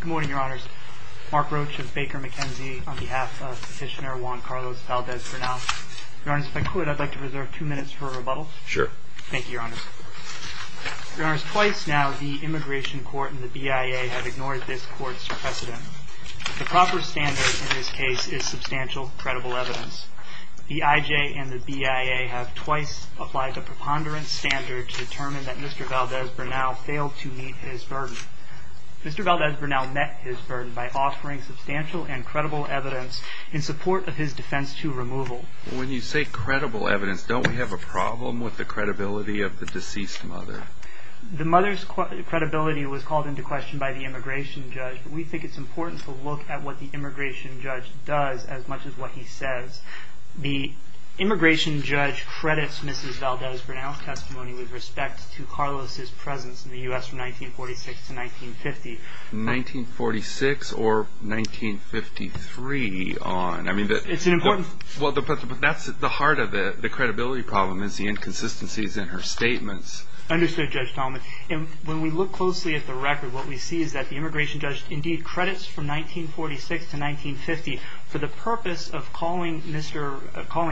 Good morning, Your Honors. Mark Roach of Baker McKenzie on behalf of Petitioner Juan Carlos Valdez-Bernal. Your Honors, if I could, I'd like to reserve two minutes for a rebuttal. Sure. Thank you, Your Honors. Your Honors, twice now the Immigration Court and the BIA have ignored this court's precedent. The proper standard in this case is substantial, credible evidence. The IJ and the BIA have twice applied the preponderance standard to determine that Mr. Valdez-Bernal failed to meet his burden. Mr. Valdez-Bernal met his burden by offering substantial and credible evidence in support of his defense to removal. When you say credible evidence, don't we have a problem with the credibility of the deceased mother? The mother's credibility was called into question by the immigration judge. We think it's important to look at what the immigration judge does as much as what he says. The immigration judge credits Mrs. Valdez-Bernal's testimony with respect to Carlos' presence in the U.S. from 1946 to 1950. 1946 or 1953 on? It's important. That's the heart of it, the credibility problem, is the inconsistencies in her statements. Understood, Judge Talmadge. When we look closely at the record, what we see is that the immigration judge indeed credits from 1946 to 1950 for the purpose of calling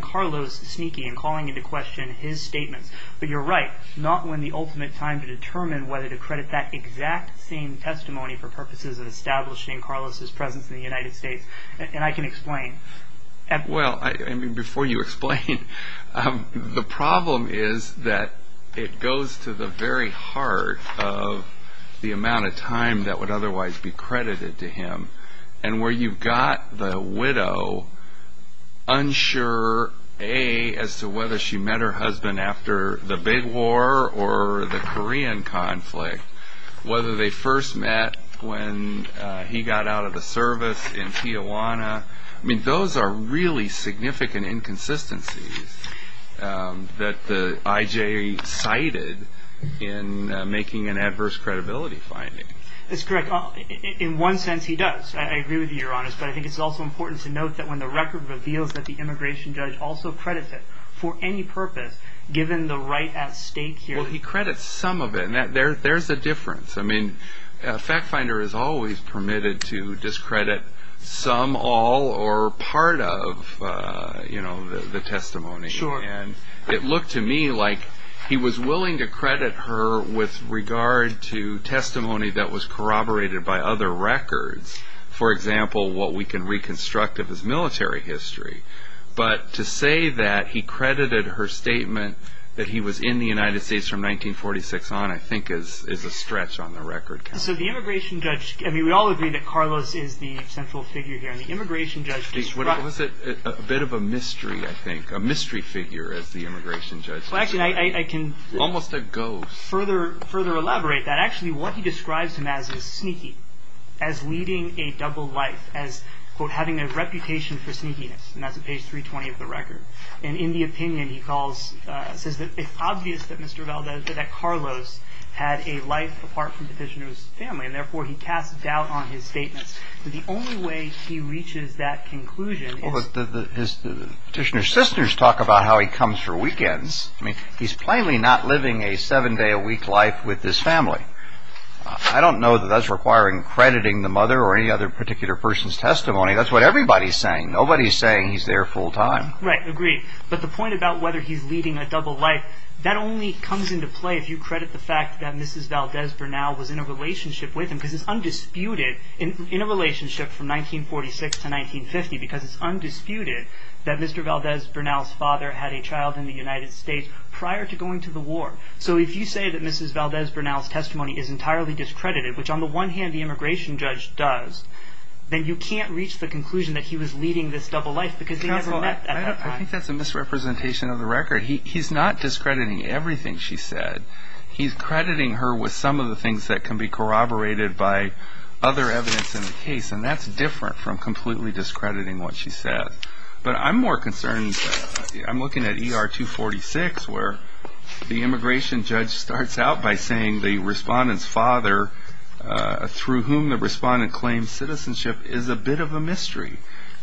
Carlos sneaky and calling into question his statements. But you're right, not when the ultimate time to determine whether to credit that exact same testimony for purposes of establishing Carlos' presence in the United States. And I can explain. Before you explain, the problem is that it goes to the very heart of the amount of time that would otherwise be credited to him. And where you've got the widow unsure, A, as to whether she met her husband after the big war or the Korean conflict, whether they first met when he got out of the service in Tijuana. I mean, those are really significant inconsistencies that the I.J. cited in making an adverse credibility finding. That's correct. In one sense, he does. I agree with you, Your Honor. But I think it's also important to note that when the record reveals that the immigration judge also credits it for any purpose, given the right at stake here. Well, he credits some of it. There's a difference. I mean, a fact finder is always permitted to discredit some, all, or part of the testimony. And it looked to me like he was willing to credit her with regard to testimony that was corroborated by other records. For example, what we can reconstruct of his military history. But to say that he credited her statement that he was in the United States from 1946 on, I think, is a stretch on the record count. So the immigration judge, I mean, we all agree that Carlos is the central figure here. And the immigration judge describes- He's a bit of a mystery, I think, a mystery figure as the immigration judge. Well, actually, I can- Almost a ghost. I can further elaborate that. Actually, what he describes him as is sneaky, as leading a double life, as, quote, having a reputation for sneakiness. And that's at page 320 of the record. And in the opinion, he calls, says that it's obvious that Mr. Valdez, that Carlos had a life apart from Petitioner's family. And therefore, he casts doubt on his statements. But the only way he reaches that conclusion is- Well, but his Petitioner sisters talk about how he comes for weekends. I mean, he's plainly not living a seven-day-a-week life with this family. I don't know that that's requiring crediting the mother or any other particular person's testimony. That's what everybody's saying. Nobody's saying he's there full time. Right. Agreed. But the point about whether he's leading a double life, that only comes into play if you credit the fact that Mrs. Valdez Bernal was in a relationship with him. Because it's undisputed, in a relationship from 1946 to 1950, because it's undisputed that Mr. Valdez Bernal's father had a child in the United States prior to going to the war. So if you say that Mrs. Valdez Bernal's testimony is entirely discredited, which on the one hand, the immigration judge does, then you can't reach the conclusion that he was leading this double life because they never met at that time. I think that's a misrepresentation of the record. He's not discrediting everything she said. He's crediting her with some of the things that can be corroborated by other evidence in the case, and that's different from completely discrediting what she said. But I'm more concerned. I'm looking at ER 246, where the immigration judge starts out by saying the respondent's father, through whom the respondent claims citizenship, is a bit of a mystery.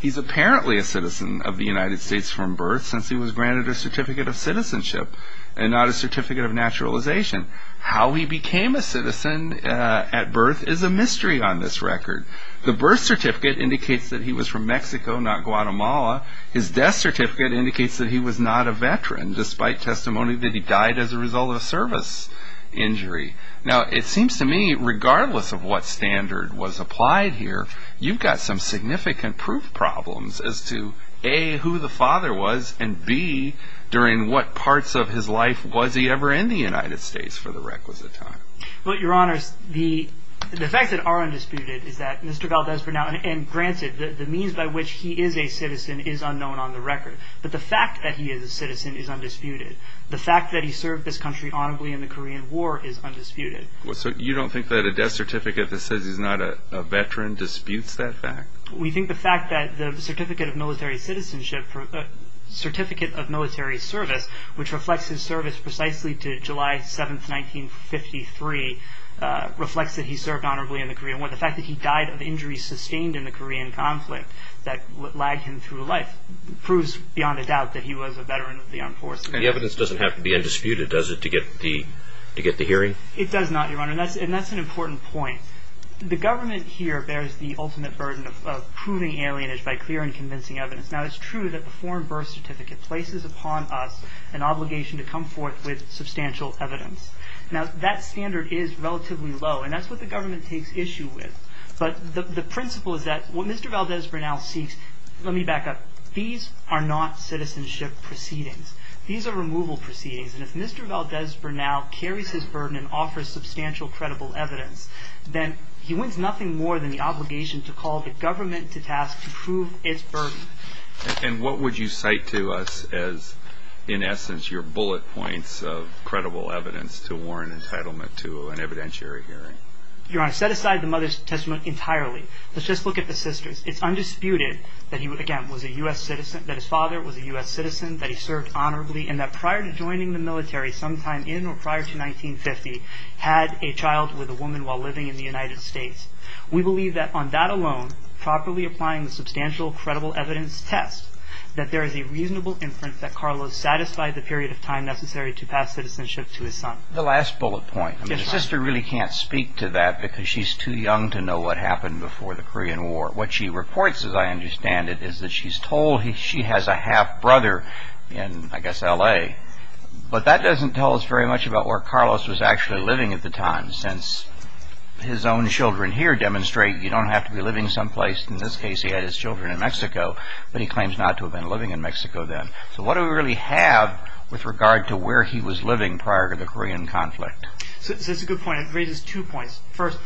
He's apparently a citizen of the United States from birth, since he was granted a certificate of citizenship and not a certificate of naturalization. How he became a citizen at birth is a mystery on this record. The birth certificate indicates that he was from Mexico, not Guatemala. His death certificate indicates that he was not a veteran, despite testimony that he died as a result of a service injury. Now, it seems to me, regardless of what standard was applied here, you've got some significant proof problems as to, A, who the father was, and, B, during what parts of his life was he ever in the United States for the requisite time. Well, Your Honors, the facts that are undisputed is that Mr. Valdez, for now, and granted, the means by which he is a citizen is unknown on the record, but the fact that he is a citizen is undisputed. The fact that he served this country honorably in the Korean War is undisputed. So you don't think that a death certificate that says he's not a veteran disputes that fact? We think the fact that the certificate of military citizenship, certificate of military service, which reflects his service precisely to July 7, 1953, reflects that he served honorably in the Korean War. The fact that he died of injuries sustained in the Korean conflict that lagged him through life proves beyond a doubt that he was a veteran of the armed forces. The evidence doesn't have to be undisputed, does it, to get the hearing? It does not, Your Honor, and that's an important point. The government here bears the ultimate burden of proving alienage by clear and convincing evidence. Now, it's true that the foreign birth certificate places upon us an obligation to come forth with substantial evidence. Now, that standard is relatively low, and that's what the government takes issue with, but the principle is that what Mr. Valdez, for now, seeks, let me back up, these are not citizenship proceedings. These are removal proceedings, and if Mr. Valdez, for now, carries his burden and offers substantial credible evidence, then he wins nothing more than the obligation to call the government to task to prove its burden. And what would you cite to us as, in essence, your bullet points of credible evidence to warrant entitlement to an evidentiary hearing? Your Honor, set aside the Mother's Testament entirely. Let's just look at the sisters. It's undisputed that he, again, was a U.S. citizen, that his father was a U.S. citizen, that he served honorably, and that prior to joining the military sometime in or prior to 1950, had a child with a woman while living in the United States. We believe that on that alone, properly applying the substantial credible evidence test, that there is a reasonable inference that Carlos satisfied the period of time necessary to pass citizenship to his son. The last bullet point. The sister really can't speak to that because she's too young to know what happened before the Korean War, what she reports, as I understand it, is that she's told she has a half-brother in, I guess, L.A. But that doesn't tell us very much about where Carlos was actually living at the time, since his own children here demonstrate you don't have to be living someplace. In this case, he had his children in Mexico, but he claims not to have been living in Mexico then. So what do we really have with regard to where he was living prior to the Korean conflict? So that's a good point. It raises two points. First,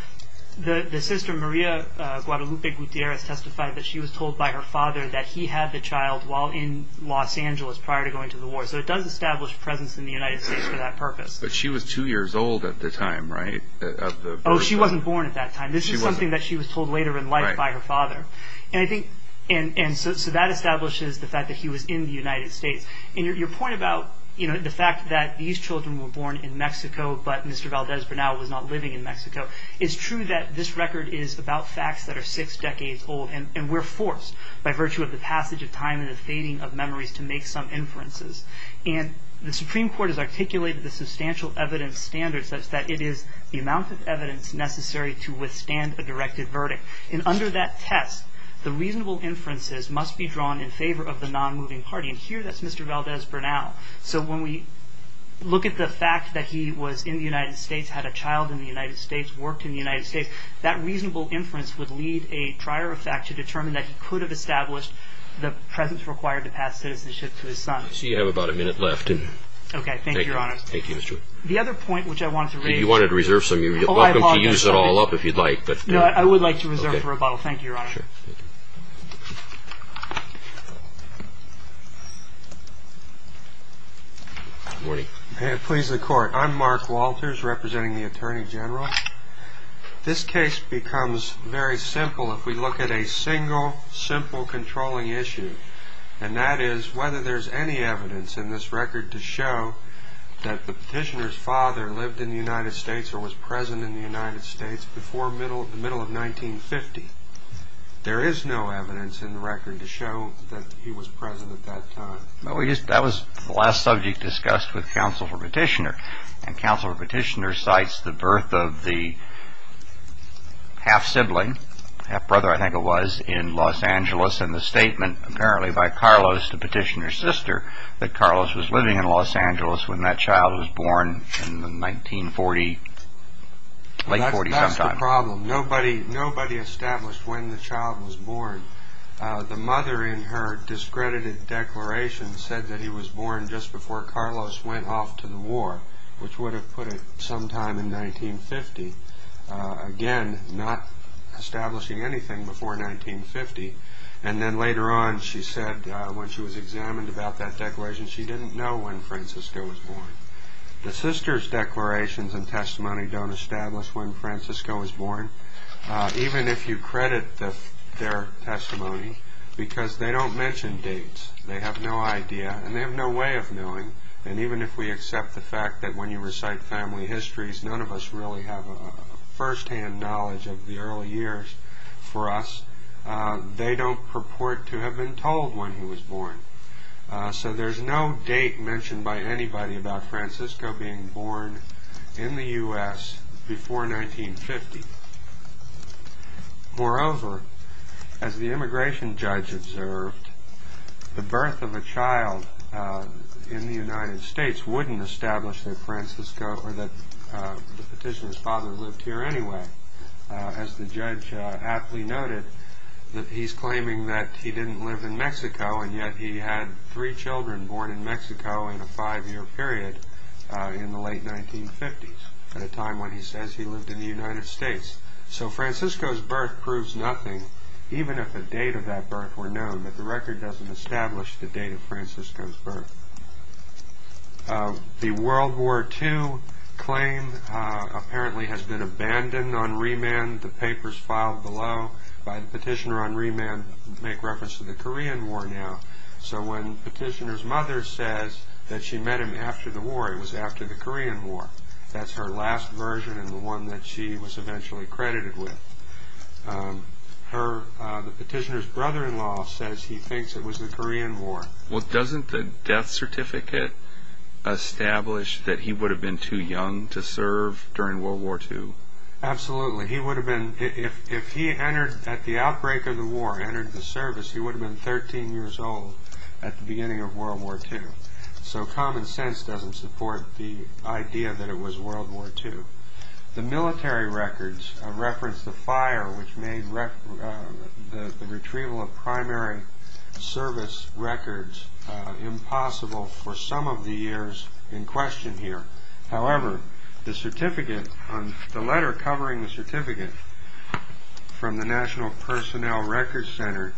the sister Maria Guadalupe Gutierrez testified that she was told by her father that he had the child while in Los Angeles prior to going to the war. So it does establish presence in the United States for that purpose. But she was two years old at the time, right? Oh, she wasn't born at that time. This is something that she was told later in life by her father. And so that establishes the fact that he was in the United States. And your point about the fact that these children were born in Mexico, but Mr. Valdez Bernal was not living in Mexico, it's true that this record is about facts that are six decades old. And we're forced, by virtue of the passage of time and the fading of memories, to make some inferences. And the Supreme Court has articulated the substantial evidence standard such that it is the amount of evidence necessary to withstand a directed verdict. And under that test, the reasonable inferences must be drawn in favor of the nonmoving party. And here, that's Mr. Valdez Bernal. So when we look at the fact that he was in the United States, had a child in the United States, worked in the United States, that reasonable inference would lead a trier of fact to determine that he could have established the presence required to pass citizenship to his son. So you have about a minute left. Okay, thank you, Your Honor. Thank you, Mr. Wood. The other point which I wanted to raise. You wanted to reserve some. You're welcome to use it all up if you'd like. No, I would like to reserve for a bottle. Thank you, Your Honor. Sure. Good morning. Please, the Court. I'm Mark Walters, representing the Attorney General. This case becomes very simple if we look at a single, simple controlling issue, and that is whether there's any evidence in this record to show that the petitioner's father lived in the United States or was present in the United States before the middle of 1950. There is no evidence in the record to show that he was present at that time. No, that was the last subject discussed with counsel for petitioner, and counsel for petitioner cites the birth of the half-sibling, half-brother, I think it was, in Los Angeles and the statement, apparently, by Carlos, the petitioner's sister, that Carlos was living in Los Angeles when that child was born in the 1940s, late 40s sometime. No problem. Nobody established when the child was born. The mother in her discredited declaration said that he was born just before Carlos went off to the war, which would have put it sometime in 1950. Again, not establishing anything before 1950. And then later on, she said when she was examined about that declaration, she didn't know when Francisco was born. The sister's declarations and testimony don't establish when Francisco was born, even if you credit their testimony, because they don't mention dates. They have no idea, and they have no way of knowing, and even if we accept the fact that when you recite family histories, none of us really have a firsthand knowledge of the early years for us, they don't purport to have been told when he was born. So there's no date mentioned by anybody about Francisco being born in the U.S. before 1950. Moreover, as the immigration judge observed, the birth of a child in the United States wouldn't establish that Francisco or that the petitioner's father lived here anyway. As the judge aptly noted, that he's claiming that he didn't live in Mexico and yet he had three children born in Mexico in a five-year period in the late 1950s, at a time when he says he lived in the United States. So Francisco's birth proves nothing, even if the date of that birth were known, but the record doesn't establish the date of Francisco's birth. The World War II claim apparently has been abandoned on remand. The papers filed below by the petitioner on remand make reference to the Korean War now. So when the petitioner's mother says that she met him after the war, it was after the Korean War. That's her last version and the one that she was eventually credited with. The petitioner's brother-in-law says he thinks it was the Korean War. Well, doesn't the death certificate establish that he would have been too young to serve during World War II? Absolutely. If he, at the outbreak of the war, entered the service, he would have been 13 years old at the beginning of World War II. So common sense doesn't support the idea that it was World War II. The military records reference the fire which made the retrieval of primary service records impossible for some of the years in question here. However, the letter covering the certificate from the National Personnel Records Center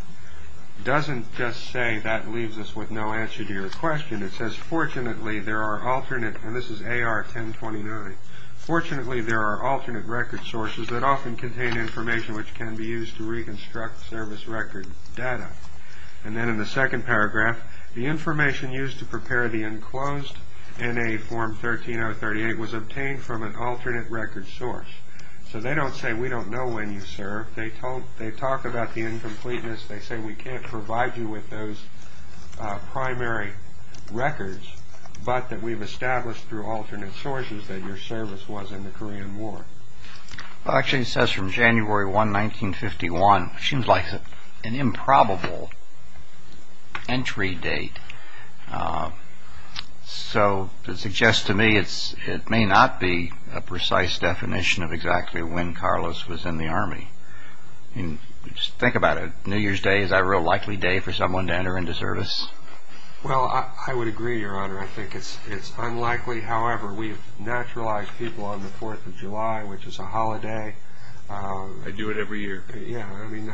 doesn't just say that leaves us with no answer to your question. It says, fortunately there are alternate, and this is AR 1029, fortunately there are alternate record sources that often contain information which can be used to reconstruct service record data. And then in the second paragraph, the information used to prepare the enclosed NA form 13038 was obtained from an alternate record source. So they don't say we don't know when you served. They talk about the incompleteness. They say we can't provide you with those primary records, but that we've established through alternate sources that your service was in the Korean War. Well, actually it says from January 1, 1951. It seems like an improbable entry date. So it suggests to me it may not be a precise definition of exactly when Carlos was in the Army. Think about it. New Year's Day, is that a real likely day for someone to enter into service? Well, I would agree, Your Honor. I think it's unlikely. Unfortunately, however, we've naturalized people on the Fourth of July, which is a holiday. I do it every year. Yeah, I mean,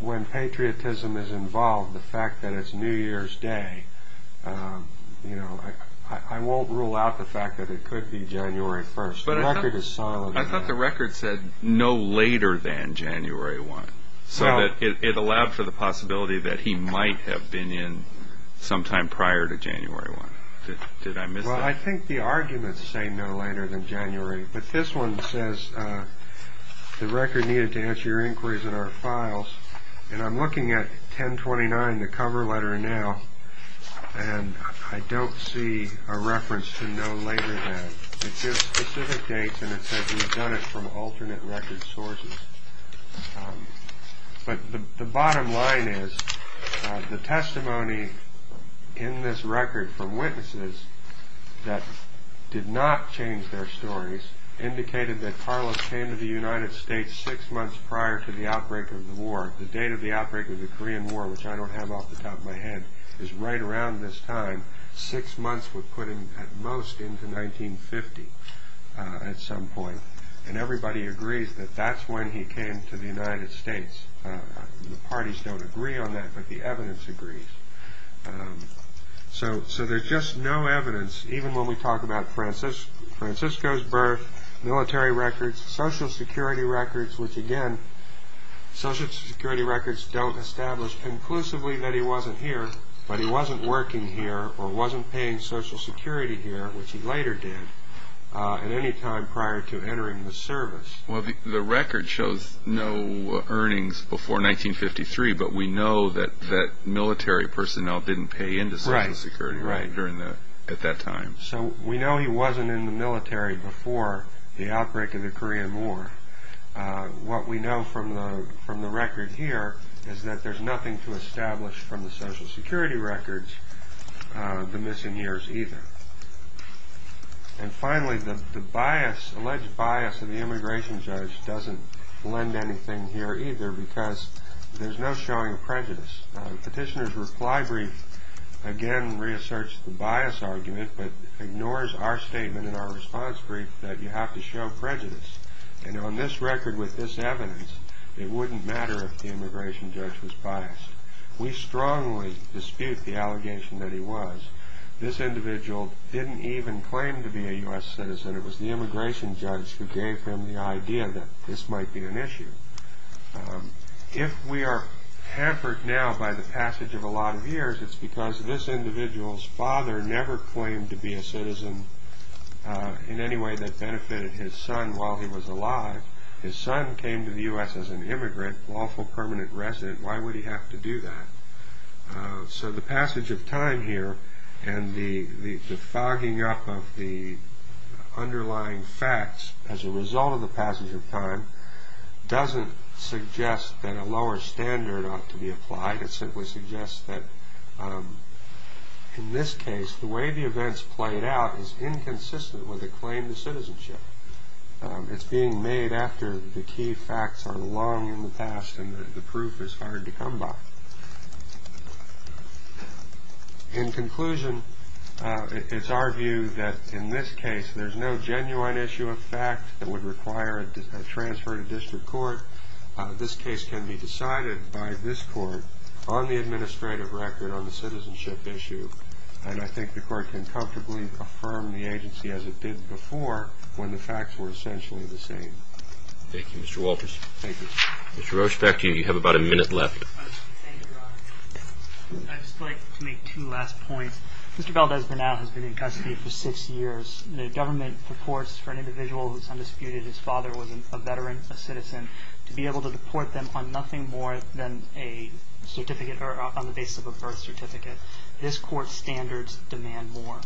when patriotism is involved, the fact that it's New Year's Day, I won't rule out the fact that it could be January 1. I thought the record said no later than January 1, so that it allowed for the possibility that he might have been in sometime prior to January 1. Did I miss that? Well, I think the arguments say no later than January, but this one says the record needed to answer your inquiries in our files, and I'm looking at 1029, the cover letter now, and I don't see a reference to no later than. It gives specific dates, and it says he's done it from alternate record sources. But the bottom line is the testimony in this record from witnesses that did not change their stories indicated that Carlos came to the United States six months prior to the outbreak of the war. The date of the outbreak of the Korean War, which I don't have off the top of my head, is right around this time. Six months would put him at most into 1950 at some point, and everybody agrees that that's when he came to the United States. The parties don't agree on that, but the evidence agrees. So there's just no evidence, even when we talk about Francisco's birth, military records, Social Security records, which again, Social Security records don't establish conclusively that he wasn't here, but he wasn't working here or wasn't paying Social Security here, which he later did at any time prior to entering the service. Well, the record shows no earnings before 1953, but we know that military personnel didn't pay into Social Security at that time. So we know he wasn't in the military before the outbreak of the Korean War. What we know from the record here is that there's nothing to establish from the Social Security records the missing years either. And finally, the alleged bias of the immigration judge doesn't lend anything here either because there's no showing of prejudice. Petitioner's reply brief again reasserts the bias argument, but ignores our statement in our response brief that you have to show prejudice. And on this record with this evidence, it wouldn't matter if the immigration judge was biased. We strongly dispute the allegation that he was. This individual didn't even claim to be a U.S. citizen. It was the immigration judge who gave him the idea that this might be an issue. If we are hampered now by the passage of a lot of years, it's because this individual's father never claimed to be a citizen in any way that benefited his son while he was alive. His son came to the U.S. as an immigrant, lawful permanent resident. Why would he have to do that? So the passage of time here and the fogging up of the underlying facts as a result of the passage of time doesn't suggest that a lower standard ought to be applied. It simply suggests that, in this case, the way the events played out is inconsistent with a claim to citizenship. It's being made after the key facts are long in the past and the proof is hard to come by. In conclusion, it's our view that, in this case, there's no genuine issue of fact that would require a transfer to district court. This case can be decided by this court on the administrative record on the citizenship issue, and I think the court can comfortably affirm the agency as it did before when the facts were essentially the same. Thank you, Mr. Walters. Thank you. Mr. Roche, back to you. You have about a minute left. Thank you, Your Honor. I'd just like to make two last points. Mr. Valdez-Bernal has been in custody for six years. The government purports for an individual who's undisputed, his father was a veteran, a citizen, to be able to deport them on nothing more than a certificate or on the basis of a birth certificate. This court's standards demand more.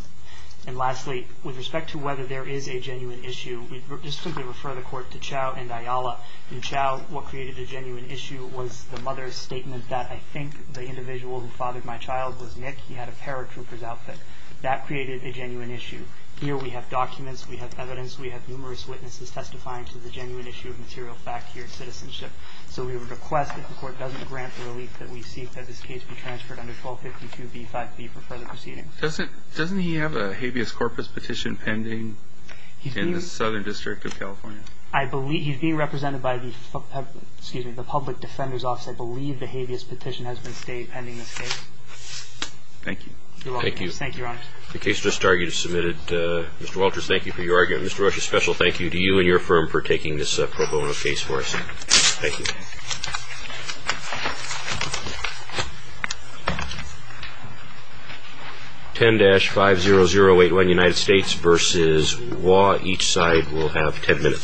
And lastly, with respect to whether there is a genuine issue, we just simply refer the court to Chau and Ayala. In Chau, what created a genuine issue was the mother's statement that I think the individual who fathered my child was Nick. He had a paratrooper's outfit. That created a genuine issue. Here we have documents, we have evidence, we have numerous witnesses testifying to the genuine issue of material fact here at Citizenship. So we would request if the court doesn't grant the relief that we seek that this case be transferred under 1252B5B for further proceedings. Doesn't he have a habeas corpus petition pending in the Southern District of California? He's being represented by the Public Defender's Office. I believe the habeas petition has been stayed pending this case. Thank you. You're welcome. Thank you, Your Honor. The case just argued is submitted. Mr. Walters, thank you for your argument. Mr. Rocha, a special thank you to you and your firm for taking this pro bono case for us. Thank you. 10-50081, United States v. Waugh. Each side will have 10 minutes.